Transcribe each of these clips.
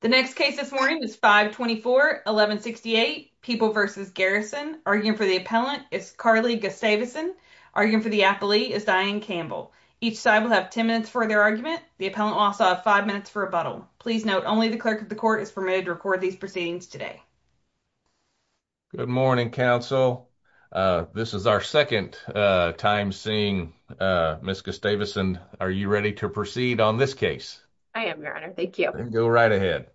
The next case this morning is 524 1168 People v. Garrison. Arguing for the appellant is Carly Gustavuson. Arguing for the appellee is Diane Campbell. Each side will have 10 minutes for their argument. The appellant will also have five minutes for rebuttal. Please note only the clerk of the court is permitted to record these proceedings today. Good morning, counsel. This is our second time seeing Ms. Gustavuson. Are you ready to proceed on this case? I am, your honor. Thank you. Go right ahead.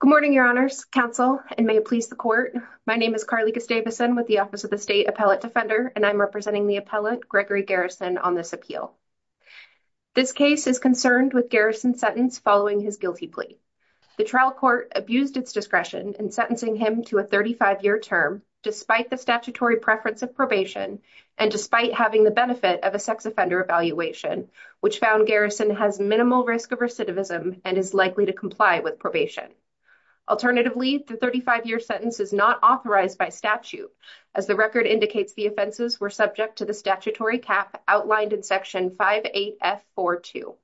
Good morning, your honors, counsel, and may it please the court. My name is Carly Gustavuson with the Office of the State Appellate Defender, and I'm representing the appellant Gregory Garrison on this appeal. This case is concerned with Garrison's sentence following his guilty plea. The trial court abused its discretion in sentencing him to a 35-year term despite the statutory preference of probation and despite having the benefit of a sex offender evaluation, which found Garrison has minimal risk of recidivism and is likely to comply with probation. Alternatively, the 35-year sentence is not authorized by statute, as the record indicates the offenses were subject to the statutory cap outlined in Section 58F42.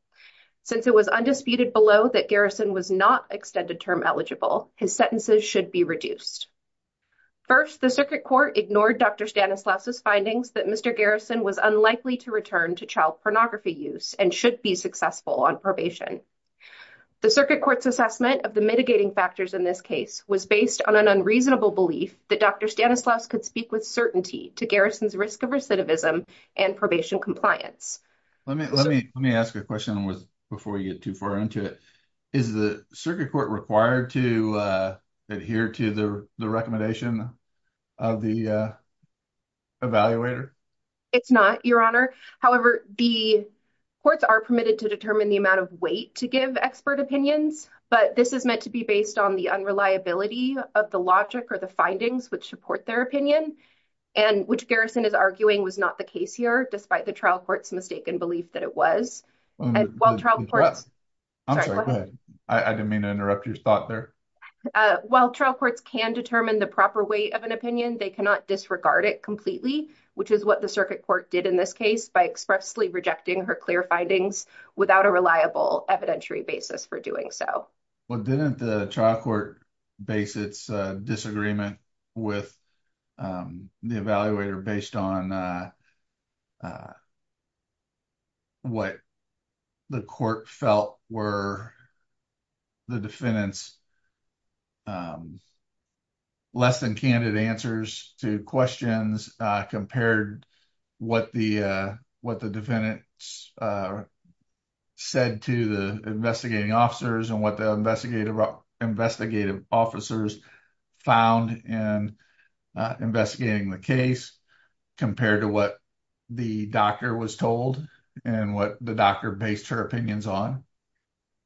Since it was undisputed below that Garrison was not extended term eligible, his sentences should be reduced. First, the circuit court ignored Dr. Stanislaus' findings that Mr. Garrison was unlikely to return to child pornography use and should be successful on probation. The circuit court's assessment of the mitigating factors in this case was based on an unreasonable belief that Dr. Stanislaus could speak with certainty to Garrison's risk of recidivism and probation compliance. Let me ask a question before you get too far into it. Is the circuit court required to adhere to the recommendation of the evaluator? It's not, Your Honor. However, the courts are permitted to determine the amount of weight to give expert opinions, but this is meant to be based on the unreliability of the logic or the findings which support their opinion, and which Garrison is arguing was not the case here despite the trial court's mistaken belief that it was. While trial courts can determine the proper weight of an opinion, they cannot disregard it completely, which is what the circuit court did in this case by expressly rejecting her clear findings without a reliable evidentiary basis for doing so. Well, didn't the trial court base its disagreement with the evaluator based on what the court felt were the defendant's less than candid answers to questions compared to what the defendant said to the investigating officers and what the investigative officers found in investigating the case compared to what the doctor was told and what the doctor based her opinions on?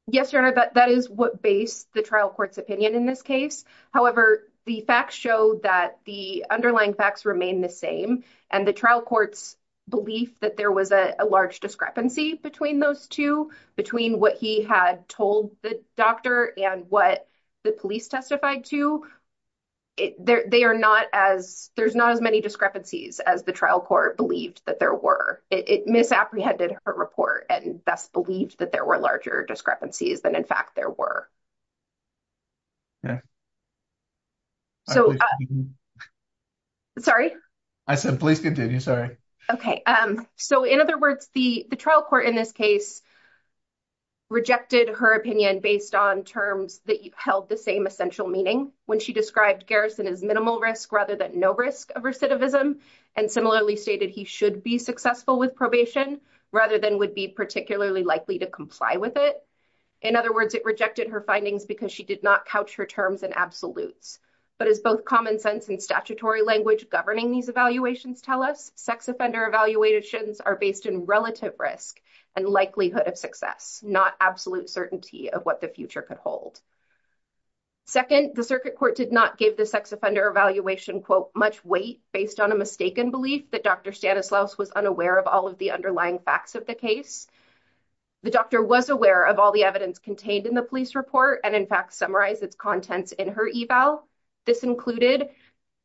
Yes, Your Honor, that is what based the trial court's opinion in this case. However, the facts show that the underlying facts remain the same, and the trial court's belief that there was a large discrepancy between those two, between what he had told the doctor and what the police testified to, there's not as many discrepancies as the trial court believed that there were. It misapprehended her report and thus believed that there were larger discrepancies than in fact there were. Sorry? I said please continue, sorry. Okay, so in other words, the trial court in this case rejected her opinion based on terms that held the same essential meaning when she described Garrison as minimal risk rather than no risk of recidivism and similarly stated he should be successful with probation rather than would be particularly likely to comply with it. In other words, it rejected her findings because she did not couch her terms in absolutes, but as both common sense and statutory language governing these evaluations tell us, sex offender evaluations are based in relative risk and likelihood of success, not absolute certainty of what the future could hold. Second, the circuit court did not give the sex offender evaluation much weight based on a mistaken belief that Dr. Stanislaus was unaware of all of the underlying facts of the case. The doctor was aware of all the evidence contained in the police report and in fact summarized its contents in her eval. This included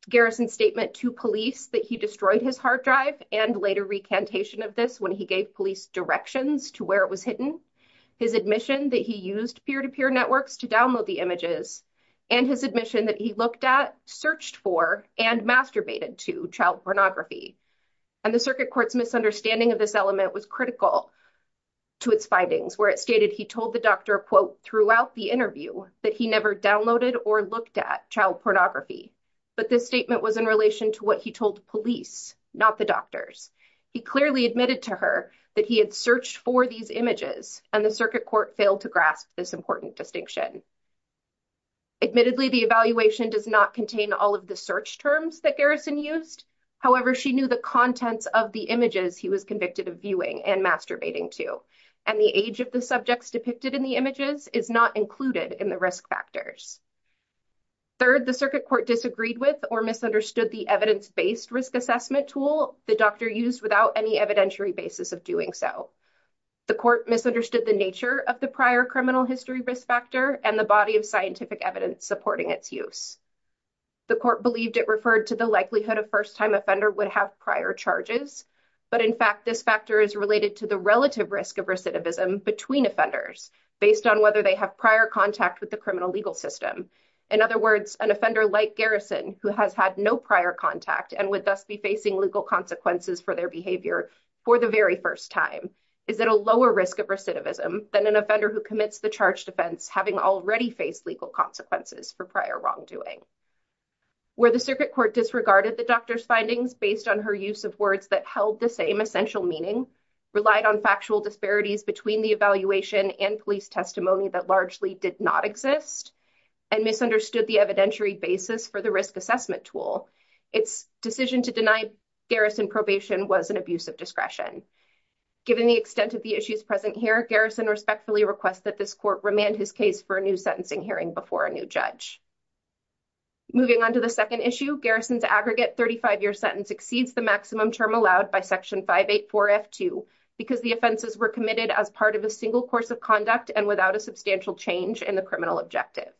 Garrison's statement to police that he destroyed his hard drive and later recantation of this when he gave police directions to where it was hidden, his admission that he used peer-to-peer networks to download the images, and his admission that he looked at, searched for, and masturbated to child pornography. And the circuit court's misunderstanding of this element was critical to its findings where it stated he told the doctor throughout the interview that he never downloaded or looked at child pornography, but this statement was in relation to what he told police, not the doctors. He clearly admitted to her that he had searched for these images and the circuit court failed to grasp this important distinction. Admittedly, the evaluation does not contain all of the search terms that Garrison used, however she knew the contents of the images he was convicted of viewing and masturbating to, and the age of the subjects depicted in the images is not included in the risk factors. Third, the circuit court disagreed with or misunderstood the evidence-based risk assessment tool the doctor used without any evidentiary basis of doing so. The court misunderstood the nature of the prior criminal history risk factor and the body of scientific evidence supporting its use. The court believed it referred to the likelihood a first-time offender would have prior charges, but in fact this factor is related to the relative risk of recidivism between offenders based on whether they have prior contact with the criminal legal system. In other words, an offender like Garrison, who has had no prior contact and would thus be facing legal consequences for their behavior for the very first time, is at a lower risk of recidivism than an offender who commits the charged offense having already faced legal consequences for prior wrongdoing. Where the circuit court disregarded the doctor's findings based on her use of words that held the same essential meaning, relied on factual disparities between the evaluation and police testimony that largely did not exist, and misunderstood the evidentiary basis for the risk assessment tool, its decision to deny Garrison probation was an abuse of discretion. Given the extent of the issues present here, Garrison respectfully requests that this court remand his case for a new sentencing hearing before a new judge. Moving on to the second issue, Garrison's aggregate 35-year sentence exceeds the maximum term allowed by Section 584F2 because the offenses were committed as part of a single course of conduct and without a substantial change in the criminal objective.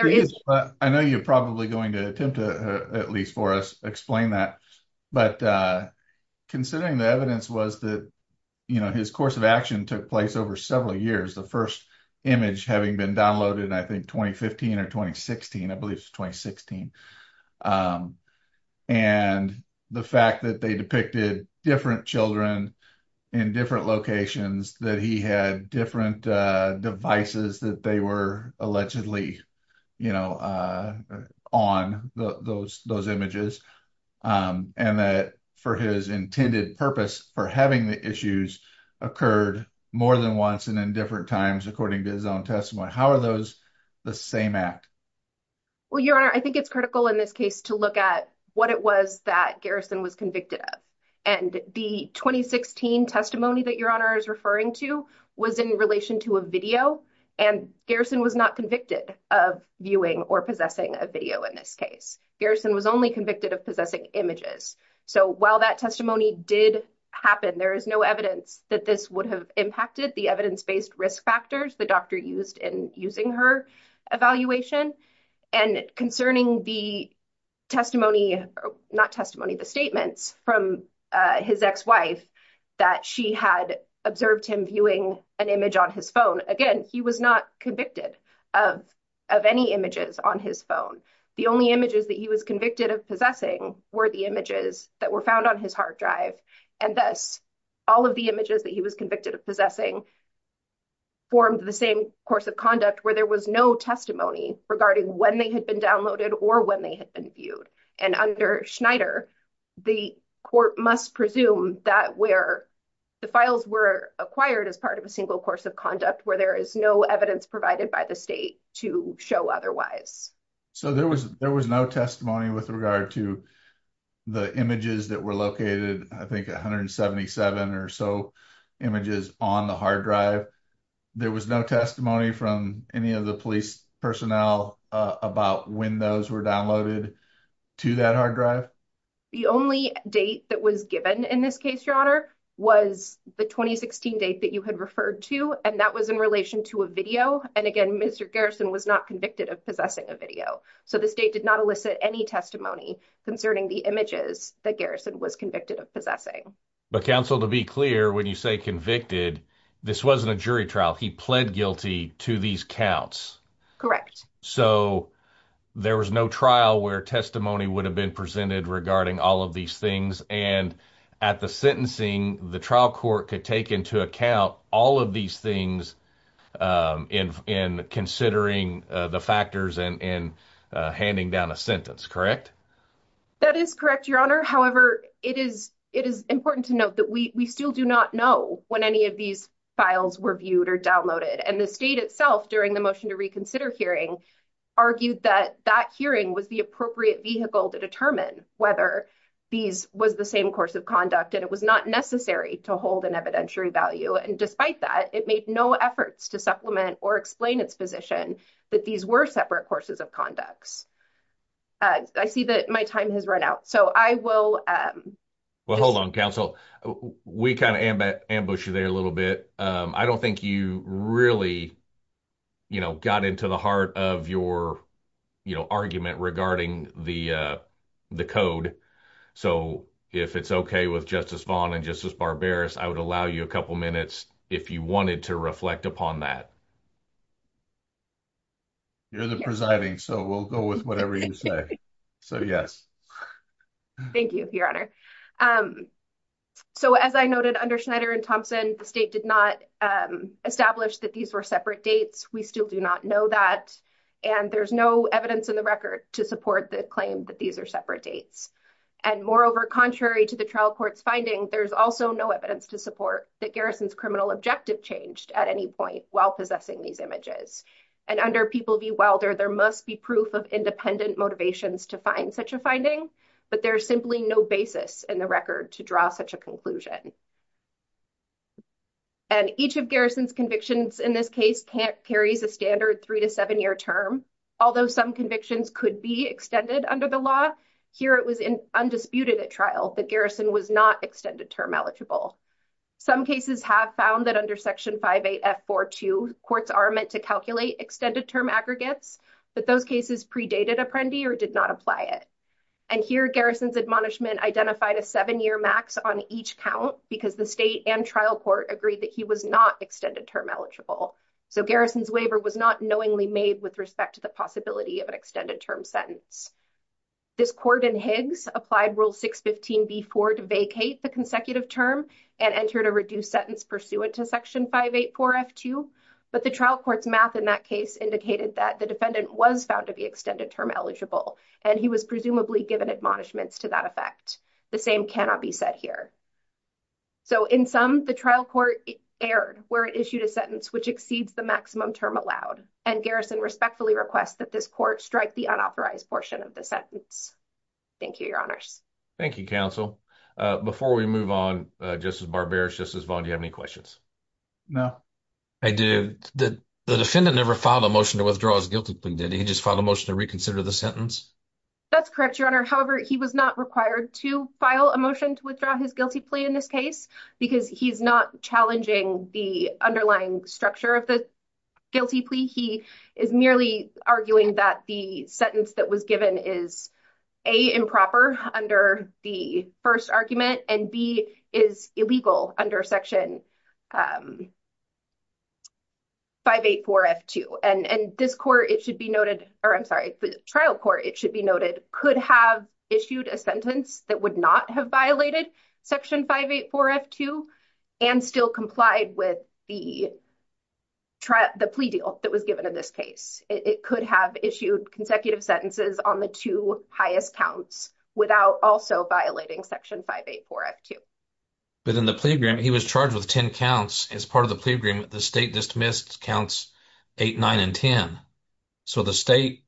I know you're probably going to attempt to, at least for us, explain that, but considering the evidence was that, you know, his course of action took place over several years, the first image having been downloaded, I think, 2015 or 2016, and the fact that they depicted different children in different locations, that he had different devices that they were allegedly, you know, on those images, and that for his intended purpose for having the issues occurred more than once and in different times according to his own Well, Your Honor, I think it's critical in this case to look at what it was that Garrison was convicted of, and the 2016 testimony that Your Honor is referring to was in relation to a video, and Garrison was not convicted of viewing or possessing a video in this case. Garrison was only convicted of possessing images, so while that testimony did happen, there is no evidence that this would have impacted the evidence-based risk factors the doctor used in using her evaluation, and concerning the testimony, not testimony, the statements from his ex-wife that she had observed him viewing an image on his phone, again, he was not convicted of any images on his phone. The only images that he was convicted of possessing were the images that were found on his hard drive, and thus all of the images that he was convicted of possessing formed the same course of conduct where there was no testimony regarding when they had been downloaded or when they had been viewed, and under Schneider, the court must presume that where the files were acquired as part of a single course of conduct where there is no evidence provided by the state to show otherwise. So there was there was no testimony with regard to the images that were any of the police personnel about when those were downloaded to that hard drive? The only date that was given in this case, your honor, was the 2016 date that you had referred to, and that was in relation to a video, and again, Mr. Garrison was not convicted of possessing a video, so the state did not elicit any testimony concerning the images that Garrison was convicted of possessing. But counsel, to be clear, when you say convicted, this wasn't a jury trial. He pled guilty to these counts. Correct. So there was no trial where testimony would have been presented regarding all of these things, and at the sentencing, the trial court could take into account all of these things in considering the factors and handing down a sentence, correct? That is correct, your honor. However, it is important to note that we still do not know when any of these files were viewed or downloaded, and the state itself, during the motion to reconsider hearing, argued that that hearing was the appropriate vehicle to determine whether these was the same course of conduct, and it was not necessary to hold an evidentiary value, and despite that, it made no efforts to supplement or explain its position that these were separate courses of conduct. I see that my time has run out, so I will... Well, hold on, counsel. We kind of ambushed you there a little bit. I don't think you really, you know, got into the heart of your, you know, argument regarding the code, so if it's okay with Justice Vaughn and Justice Barbaras, I would allow you a couple minutes if you wanted to reflect upon that. You're the presiding, so we'll go with whatever you say. So, yes. Thank you, your honor. So, as I noted under Schneider and Thompson, the state did not establish that these were separate dates. We still do not know that, and there's no evidence in the record to support the claim that these are separate dates, and moreover, contrary to the trial court's finding, there's also no evidence to support that Garrison's criminal objective changed at any point while possessing these images, and under People v. Wilder, there must be proof of independent motivations to find such a finding, but there's simply no basis in the record to draw such a conclusion, and each of Garrison's convictions in this case carries a standard three- to seven-year term, although some convictions could be extended under the law. Here, it was undisputed at trial that Garrison was not extended term eligible. Some cases have found that under Section 58F42, courts are meant to calculate extended term aggregates, but those cases predated Apprendi or did not apply it, and here Garrison's admonishment identified a seven-year max on each count because the state and trial court agreed that he was not extended term eligible, so Garrison's waiver was not knowingly made with respect to the possibility of an extended term sentence. This court in Higgs applied Rule 615b4 to vacate the consecutive term and entered a reduced sentence pursuant to Section 584F2, but the trial court's math in that case indicated that the defendant was found to be extended term eligible, and he was presumably given admonishments to that effect. The same cannot be said here, so in sum, the trial court erred where it issued a sentence which exceeds the maximum term allowed, and Garrison respectfully requests that this court strike the unauthorized portion of the sentence. Thank you, Your Honors. Thank you, Counsel. Before we move on, Justice Barberis, Justice Vaughn, do you have any questions? No. The defendant never filed a motion to withdraw his guilty plea, did he? He just filed a motion to reconsider the sentence? That's correct, Your Honor. However, he was not required to file a motion to withdraw his guilty plea in this case because he's not challenging the underlying structure of the guilty plea. He is merely arguing that the sentence that was given is, A, improper under the first argument, and B, is illegal under Section 584F2. And this court, it should be noted, or I'm sorry, the trial court, it should be noted, could have issued a sentence that would not have violated Section 584F2 and still complied with the plea deal that was given in this case. It could have issued consecutive sentences on the two highest counts without also violating Section 584F2. But in the plea agreement, he was charged with 10 counts. As part of the plea agreement, the state dismissed counts 8, 9, and 10. So the state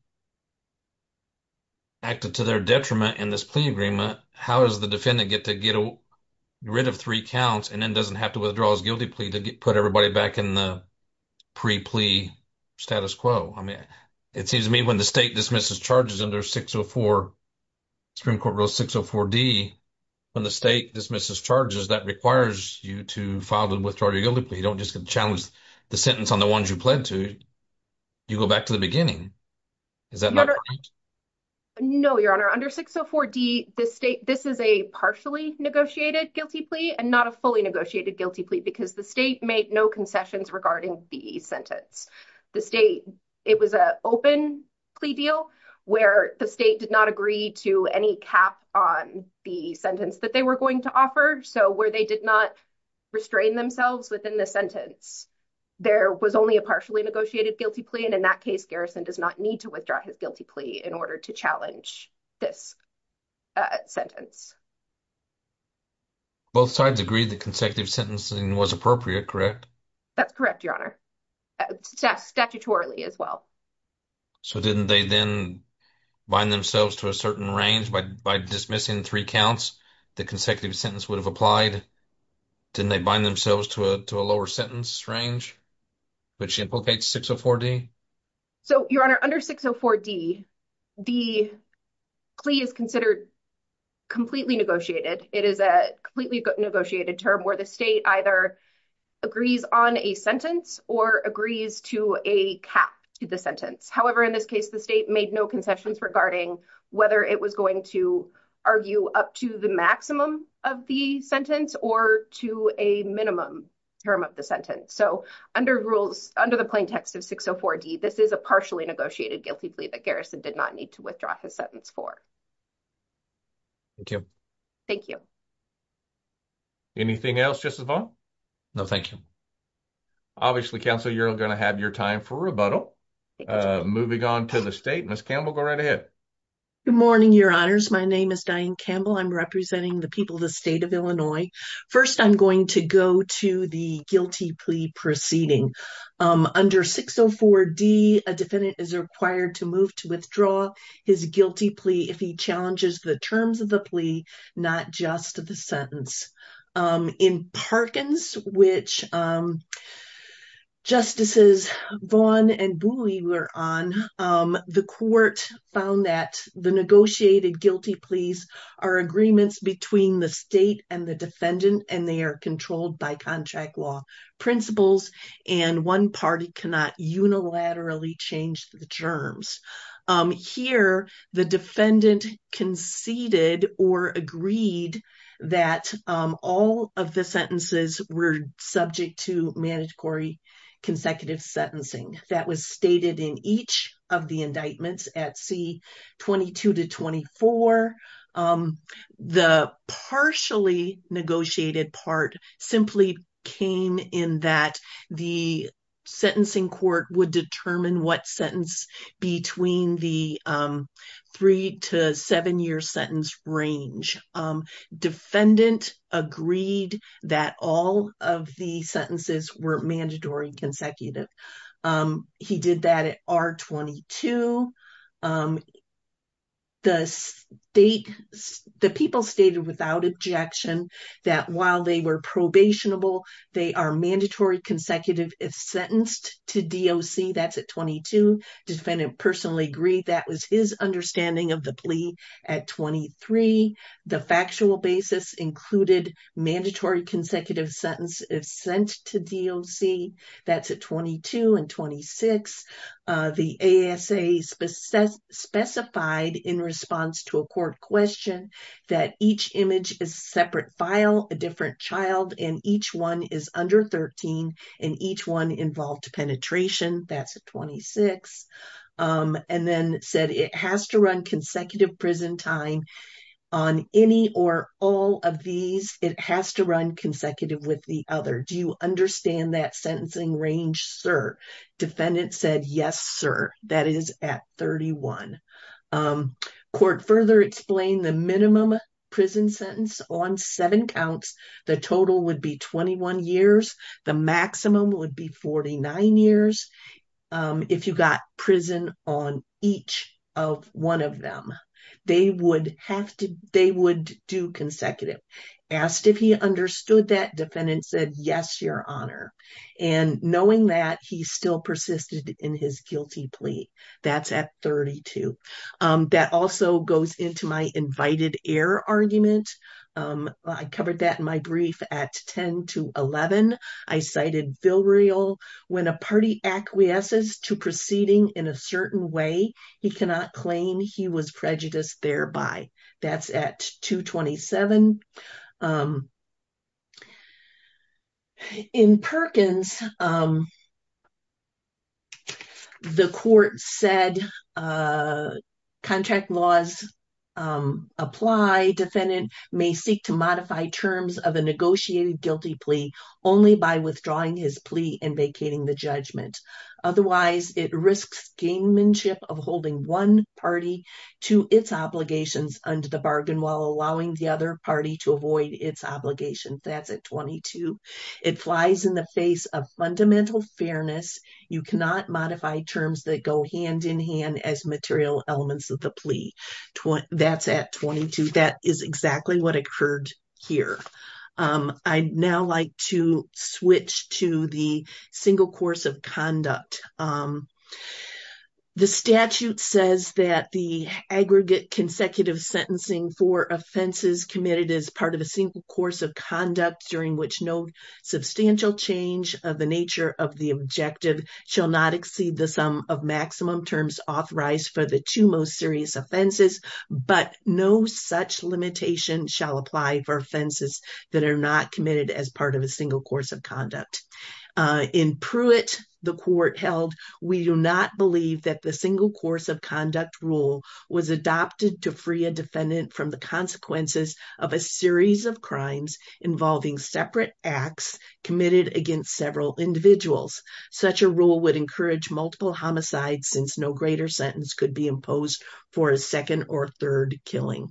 acted to their detriment in this plea agreement. How does the defendant get to get rid of three counts and then doesn't have to withdraw his guilty plea to put everybody back in the pre-plea status quo? I mean, it seems to me when the state dismisses charges under Supreme Court Rule 604D, when the state dismisses charges, that requires you to file the withdrawal of your guilty plea. You don't just challenge the sentence on the ones you pled to. You go back to the beginning. Is that not correct? No, Your Honor. Under 604D, this is a partially negotiated guilty plea and not a fully negotiated guilty plea because the state made no concessions regarding the sentence. The state, it was an open plea deal where the state did not agree to any cap on the sentence that they were going to offer. So where they did not restrain themselves within the sentence, there was only a partially negotiated guilty plea. And in that case, Garrison does not need to withdraw his guilty plea in order to challenge this sentence. Both sides agreed that consecutive sentencing was appropriate, correct? That's correct, Your Honor. Statutorily as well. So didn't they then bind themselves to a certain range by dismissing three counts, the consecutive sentence would have applied? Didn't they bind themselves to a lower sentence range, which implicates 604D? So, Your Honor, under 604D, the plea is considered completely negotiated. It is a completely negotiated term where the state either agrees on a sentence or agrees to a cap to the sentence. However, in this case, the state made no concessions regarding whether it was going to argue up to the maximum of the sentence or to a minimum term of the sentence. So under rules, under the plaintext of 604D, this is a partially negotiated guilty plea that Garrison did not need to withdraw his sentence for. Thank you. Anything else, Justice Vaughn? No, thank you. Obviously, counsel, you're going to have your time for rebuttal. Moving on to the state, Ms. Campbell, go right ahead. Good morning, Your Honors. My name is Diane Campbell. I'm representing the people of the state of Illinois. First, I'm going to go to the guilty plea proceeding. Under 604D, a defendant is required to move to withdraw his guilty plea if he challenges the terms of the negotiated guilty pleas are agreements between the state and the defendant and they are controlled by contract law principles and one party cannot unilaterally change the terms. Here, the defendant conceded or agreed that all of the sentences were subject to mandatory consecutive sentencing. That was stated in each of the indictments at C-22 to 24. The partially negotiated part simply came in that the sentencing court would determine what sentence between the three to seven year sentence range. Defendant agreed that all of the sentences were mandatory consecutive. He did that at R-22. The people stated without objection that while they were probationable, they are mandatory consecutive if sentenced to DOC. That's at 22. Defendant personally agreed that was his understanding of the plea at 23. The factual basis included mandatory consecutive sentence if sent to DOC. That's at 22 and 26. The ASA specified in response to a court question that each image is separate file, a different child, and each one is under 13 and each one involved penetration. That's at 26 and then said it has to run consecutive prison time on any or all of these. It has to run consecutive with the other. Do you understand that sentencing range, sir? Defendant said yes, sir. That is at 31. Court further explained the minimum prison sentence on seven counts. The total would be 21 years. The maximum would be 49 years if you got prison on each of one of them. They would do consecutive. Asked if he understood that, defendant said yes, your honor. Knowing that, he still persisted in his guilty plea. That's at 32. That also goes into my invited error argument. I covered that in my brief at 10 to 11. I cited Vilreal. When a party acquiesces to proceeding in a certain way, he cannot claim he was prejudiced thereby. That's at 227. In Perkins, the court said contract laws apply. Defendant may seek to modify terms of a negotiated guilty plea only by withdrawing his plea and vacating the judgment. Otherwise, it risks gamemanship of holding one party to its obligations under the bargain while allowing the other party to avoid its obligation. That's at 22. It flies in the face of fundamental fairness. You cannot modify terms that go hand in hand as material elements of the plea. That's at exactly what occurred here. I'd now like to switch to the single course of conduct. The statute says that the aggregate consecutive sentencing for offenses committed as part of a single course of conduct during which no substantial change of the nature of the objective shall not exceed the sum of maximum terms authorized for the two most serious offenses, but no such limitation shall apply for offenses that are not committed as part of a single course of conduct. In Pruitt, the court held, we do not believe that the single course of conduct rule was adopted to free a defendant from the consequences of a series of crimes involving separate acts committed against several individuals. Such a rule would encourage multiple homicides since no greater sentence could be imposed for a second or third killing.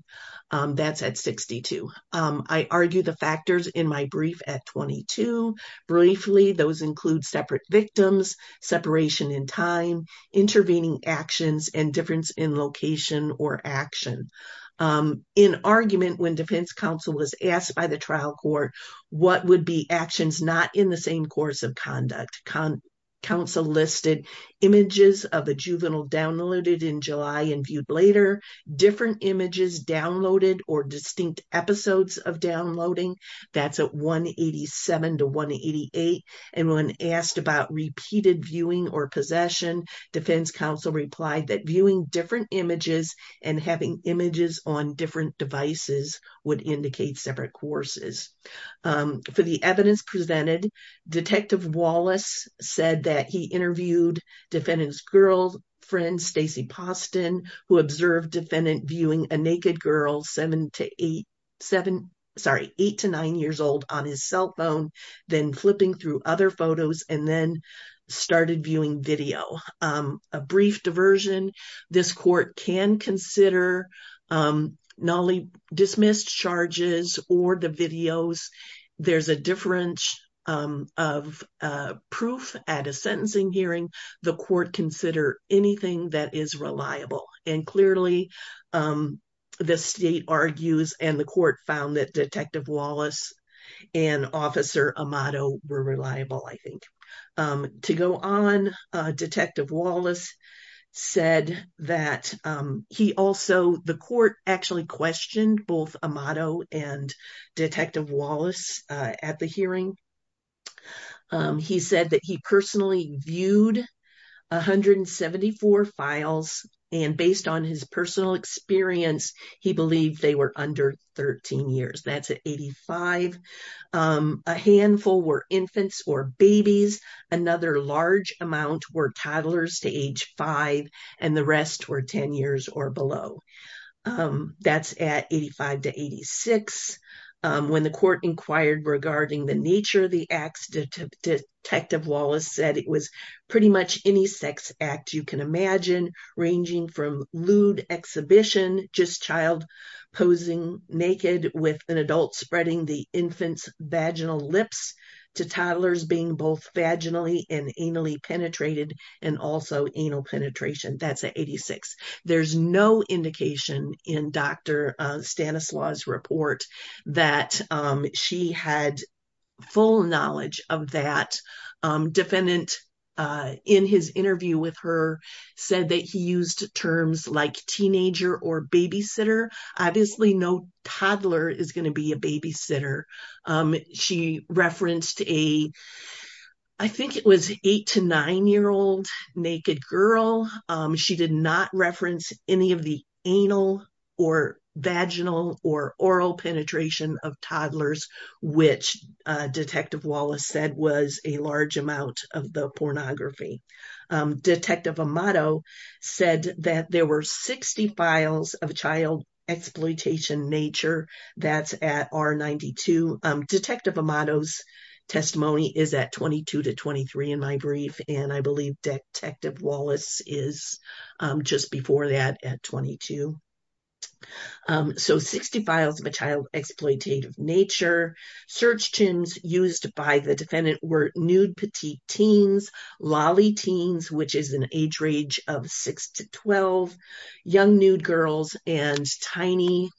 That's at 62. I argue the factors in my brief at 22. Briefly, those include separate victims, separation in time, intervening actions, and difference in location or action. In argument, when defense counsel was asked by the trial court, what would be actions not in the same course of conduct? Counsel listed images of a juvenile downloaded in July and viewed later, different images downloaded or distinct episodes of downloading. That's at 187 to 188. And when asked about repeated viewing or possession, defense counsel replied that viewing different images and having images on different devices would indicate separate courses. For the evidence presented, Detective Wallace said that he interviewed defendant's girlfriend, Stacy Poston, who observed defendant viewing a naked girl seven to eight, seven, sorry, eight to nine years old on his cell phone, then flipping through other photos and then started viewing video. A brief reference of proof at a sentencing hearing, the court consider anything that is reliable. And clearly, the state argues and the court found that Detective Wallace and Officer Amato were reliable, I think. To go on, Detective Wallace said that he also, the court actually questioned both Amato and Detective Wallace at the hearing. He said that he personally viewed 174 files and based on his personal experience, he believed they were under 13 years. That's at 85. A handful were infants or babies. Another large amount were toddlers to age five and the rest were 10 years or below. That's at 85 to 86. When the court inquired regarding the nature of the acts, Detective Wallace said it was pretty much any sex act you can imagine, ranging from lewd exhibition, just child posing naked with an adult spreading the infant's vaginal lips to toddlers being both vaginally and anally penetrated and also anal penetration. That's at 86. There's no indication in Dr. Stanislaw's report that she had full knowledge of that. Defendant, in his interview with her, said that he used terms like teenager or babysitter. Obviously, no toddler is going to be a babysitter. She referenced a, I think it was eight to nine-year-old naked girl. She did not reference any of the anal or vaginal or oral penetration of toddlers, which Detective Wallace said was a large amount of the pornography. Detective Amato said that there were 60 files of child exploitation nature. That's at R92. Detective Amato's testimony is at 22 to 23 in my brief, and I believe Detective Wallace is just before that at 22. So, 60 files of a child exploitative nature. Search terms used by the defendant were nude petite teens, lolly teens, which is an age range of six to 12, young nude girls, and tiny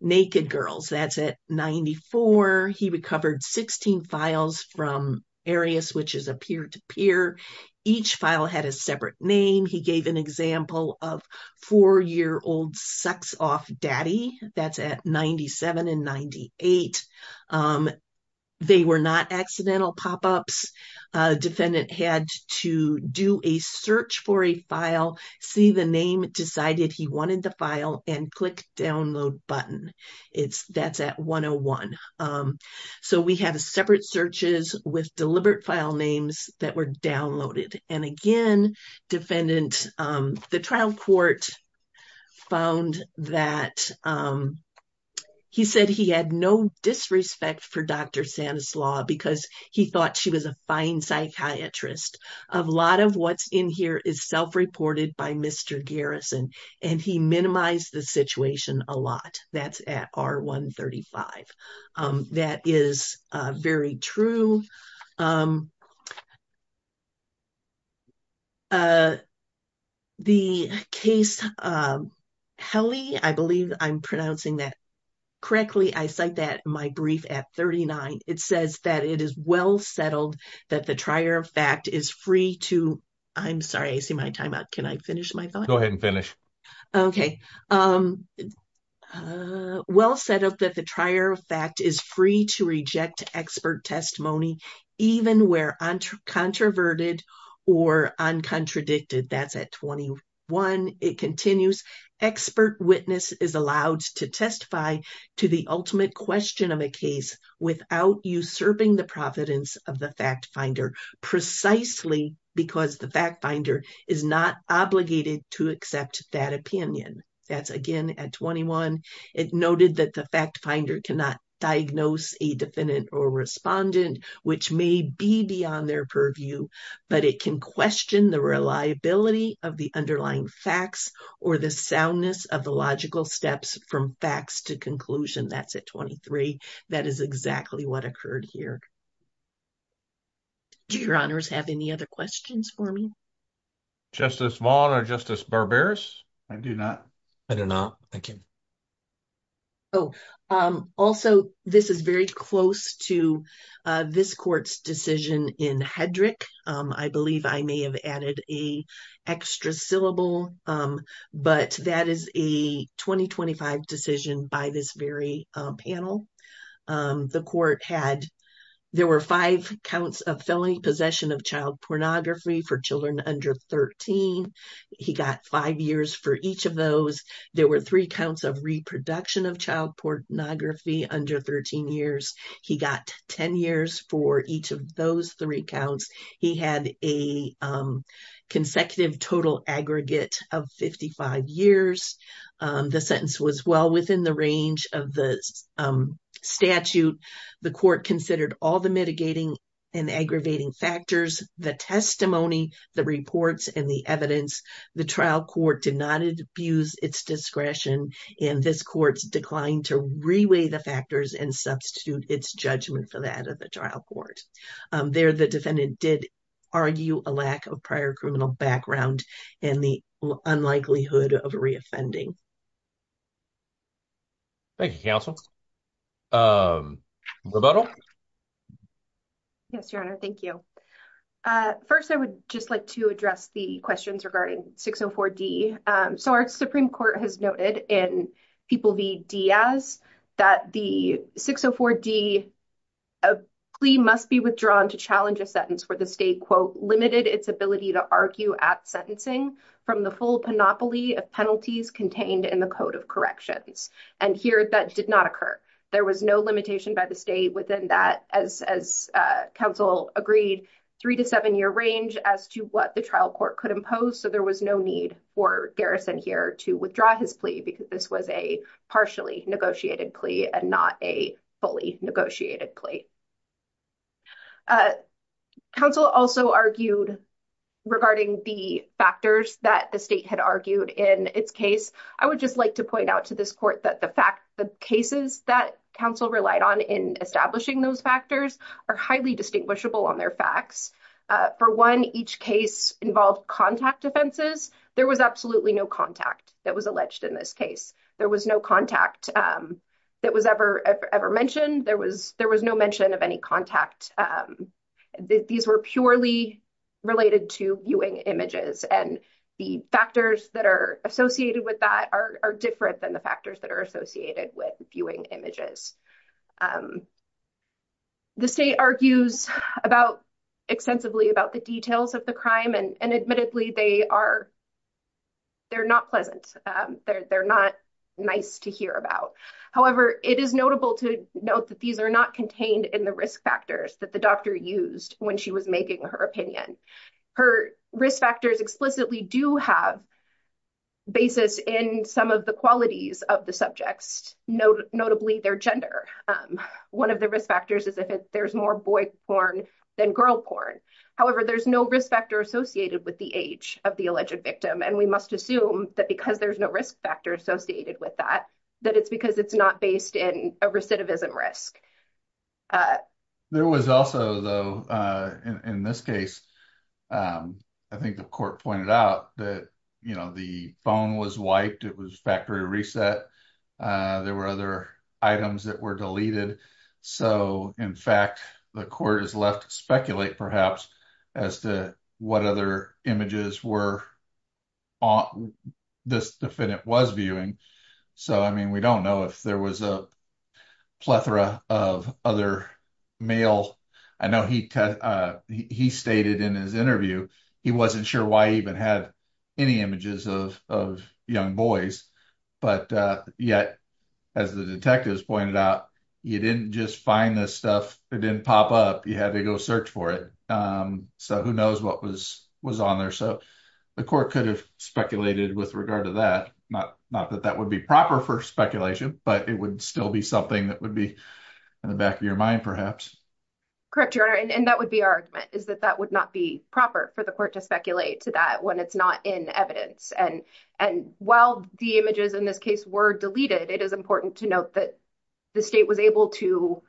naked girls. That's at 94. He recovered 16 files from Arius, which is a peer-to-peer. Each file had a separate name. He gave an example of four-year-old sex-off daddy. That's at 97 and 98. They were not accidental pop-ups. Defendant had to do a search for a file, see the name, decided he wanted the file, and click download button. That's at 101. So, we have separate searches with deliberate file names that were downloaded. Again, defendant, the trial court found that he said he had no disrespect for Dr. Sanislaw because he thought she was a fine psychiatrist. A lot of what's in here is self-reported by Mr. Garrison, and he minimized the situation a lot. That's at R135. That is very true. The case, Helle, I believe I'm pronouncing that correctly. I cite that in my brief at 39. It says that it is well settled that the trier of fact is free to, I'm sorry, I see my time out. Can I finish my thought? Go ahead and finish. Okay. Well set up that the trier of fact is free to reject expert testimony even where controverted or uncontradicted. That's at 21. It continues, expert witness is allowed to testify to the ultimate question of a case without usurping the providence of the fact finder precisely because the fact finder is not obligated to accept that opinion. That's again at 21. It does not diagnose a defendant or respondent which may be beyond their purview, but it can question the reliability of the underlying facts or the soundness of the logical steps from facts to conclusion. That's at 23. That is exactly what occurred here. Do your honors have any other questions for me? Justice Vaughn or Justice Barberis? I do not. I do not. Thank you. Oh, also this is very close to this court's decision in Hedrick. I believe I may have added a extra syllable, but that is a 2025 decision by this very panel. The court had, there were five counts of felony possession of child pornography for children under 13. He got five years for each of those. There were three counts of reproduction of child pornography under 13 years. He got 10 years for each of those three counts. He had a consecutive total aggregate of 55 years. The sentence was well within the range of the statute. The court considered all the mitigating and aggravating factors, the testimony, the reports, and the evidence. The trial court did not abuse its discretion, and this court declined to reweigh the factors and substitute its judgment for that of the trial court. There, the defendant did argue a lack of prior criminal background and the unlikelihood of reoffending. Thank you, counsel. Roberto? Yes, your honor. Thank you. First, I would just like to address the questions regarding 604D. So our Supreme Court has noted in People v. Diaz that the 604D plea must be withdrawn to challenge a sentence where the state, quote, its ability to argue at sentencing from the full panoply of penalties contained in the Code of Corrections. And here, that did not occur. There was no limitation by the state within that, as counsel agreed, three- to seven-year range as to what the trial court could impose. So there was no need for Garrison here to withdraw his plea because this was a partially negotiated plea and not a fully negotiated plea. Counsel also argued regarding the factors that the state had argued in its case. I would just like to point out to this court that the fact, the cases that counsel relied on in establishing those factors are highly distinguishable on their facts. For one, each case involved contact offenses. There was absolutely no contact that was alleged in this case. There was no contact that was ever mentioned. There was no mention of any contact. These were purely related to viewing images, and the factors that are associated with that are different than the factors that are associated with viewing images. The state argues extensively about the details of the crime, and admittedly, they're not pleasant. They're not nice to hear about. However, it is notable to note that these are not contained in the risk factors that the doctor used when she was making her opinion. Her risk factors explicitly do have basis in some of the qualities of the subjects, notably their gender. One of the risk factors is if there's more boy porn than girl porn. However, there's no risk factor associated with the age of the alleged victim. We must assume that because there's no risk factor associated with that, that it's because it's not based in a recidivism risk. There was also, though, in this case, I think the court pointed out that the phone was wiped. It was factory reset. There were other items that were deleted. In fact, the court has left to perhaps speculate as to what other images this defendant was viewing. So, I mean, we don't know if there was a plethora of other male... I know he stated in his interview, he wasn't sure why he even had any images of young boys. But yet, as the detectives pointed out, you didn't just find this stuff. It didn't pop up. You had to go search for it. So, who knows what was on there. The court could have speculated with regard to that. Not that that would be proper for speculation, but it would still be something that would be in the back of your mind, perhaps. Correct, Your Honor. That would be our argument, is that that would not be proper for the court to speculate to that when it's not in evidence. While the images in this case were deleted, it is important to note that the state was able to,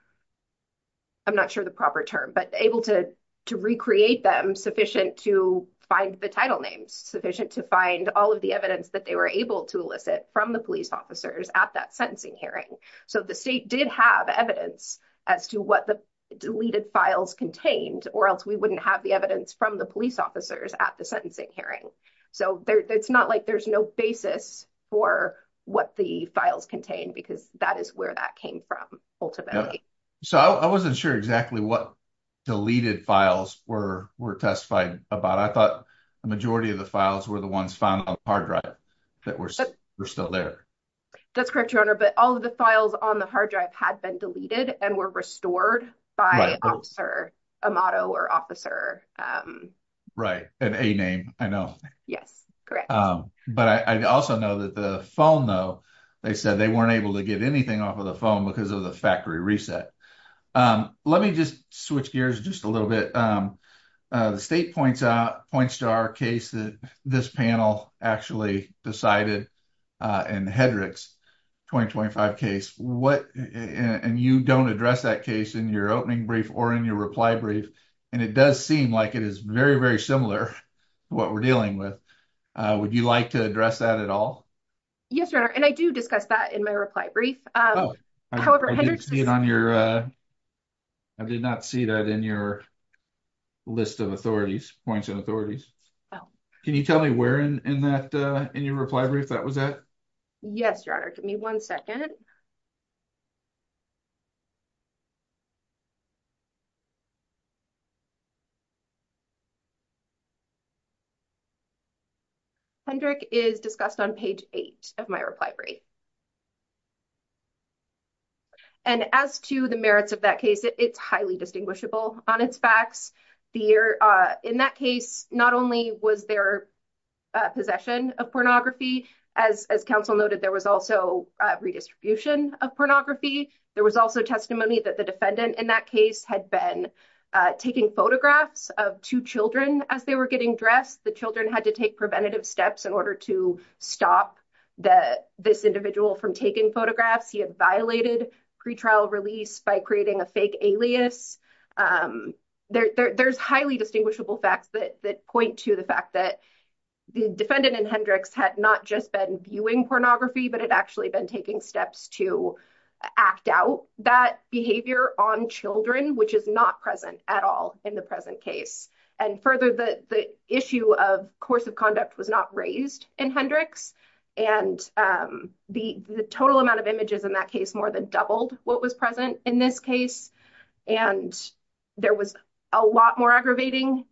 I'm not sure the proper term, but able to recreate them sufficient to find the title names, sufficient to find all of the evidence that they were able to elicit from the police officers at that sentencing hearing. So, the state did have evidence as to what the deleted files contained, or else we wouldn't have the evidence from the police officers at the sentencing hearing. So, it's not like there's no basis for what the deleted files contained, because that is where that came from, ultimately. So, I wasn't sure exactly what deleted files were testified about. I thought the majority of the files were the ones found on the hard drive that were still there. That's correct, Your Honor, but all of the files on the hard drive had been deleted and were restored by officer, a motto or officer. Right, an A name, I know. Yes, correct. But I also know that the phone, though, they said they weren't able to get anything off of the phone because of the factory reset. Let me just switch gears just a little bit. The state points out, points to our case that this panel actually decided in the Hedrick's 2025 case, and you don't address that case in your opening brief or in your reply brief, and it does seem like it is very, very similar to what we're dealing with. Would you like to address that at all? Yes, Your Honor, and I do discuss that in my reply brief. I did not see that in your list of authorities, points and authorities. Can you tell me where in your reply brief that was at? Yes, Your Honor, give me one second. Yes, Your Honor. Hendrick is discussed on page eight of my reply brief. And as to the merits of that case, it's highly distinguishable on its facts. The year in that case, not only was there possession of pornography, as counsel noted, there was also redistribution of pornography. There was also testimony that the defendant in that case had been taking photographs of two children as they were getting dressed. The children had to take preventative steps in order to stop this individual from taking photographs. He had violated pretrial release by creating a fake alias. There's highly distinguishable facts that point to the fact that the defendant in Hendrick's had not just been viewing pornography, but had actually been taking steps to act out that behavior on children, which is not present at all in the present case. And further, the issue of course of conduct was not raised in Hendrick's. And the total amount of images in that case more than doubled what was present in this case. And there was a lot more aggravating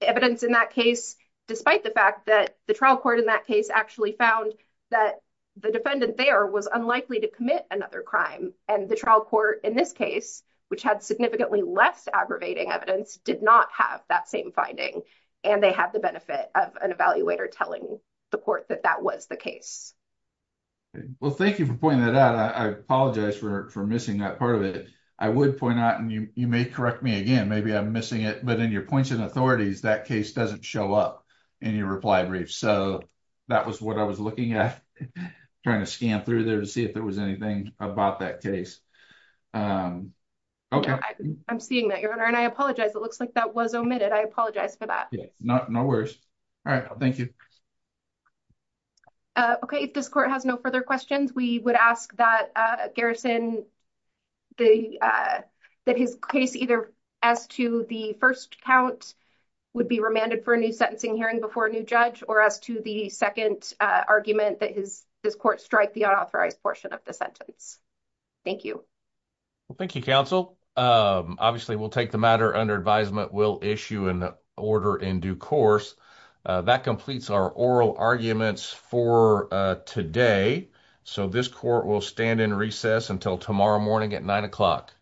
evidence in that case, despite the fact that the trial court in that case actually found that the defendant there was unlikely to commit another crime. And the trial court in this case, which had significantly less aggravating evidence, did not have that same finding. And they had the benefit of an evaluator telling the court that that was the case. Well, thank you for pointing that out. I apologize for missing that part of it. I would point out, and you may correct me again, maybe I'm missing it, but in your points and authorities, that case doesn't show up in your reply brief. So that was what I was looking at, trying to scan through there to see if there was anything about that case. Okay. I'm seeing that, Your Honor. And I apologize. It looks like that was omitted. I apologize for that. No worries. All right. Thank you. Okay. If this court has no further questions, we would ask that Garrison, that his case either as to the first count would be remanded for a new sentencing hearing before a new judge, or as to the second argument that this court strike the unauthorized portion of the sentence. Thank you. Well, thank you, counsel. Obviously, we'll take the matter under advisement. We'll issue an order in due course. That completes our oral arguments for today. So this court will stand in recess until tomorrow morning at nine o'clock.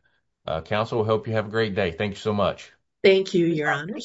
Counsel, we hope you have a great day. Thank you so much. Thank you, Your Honor.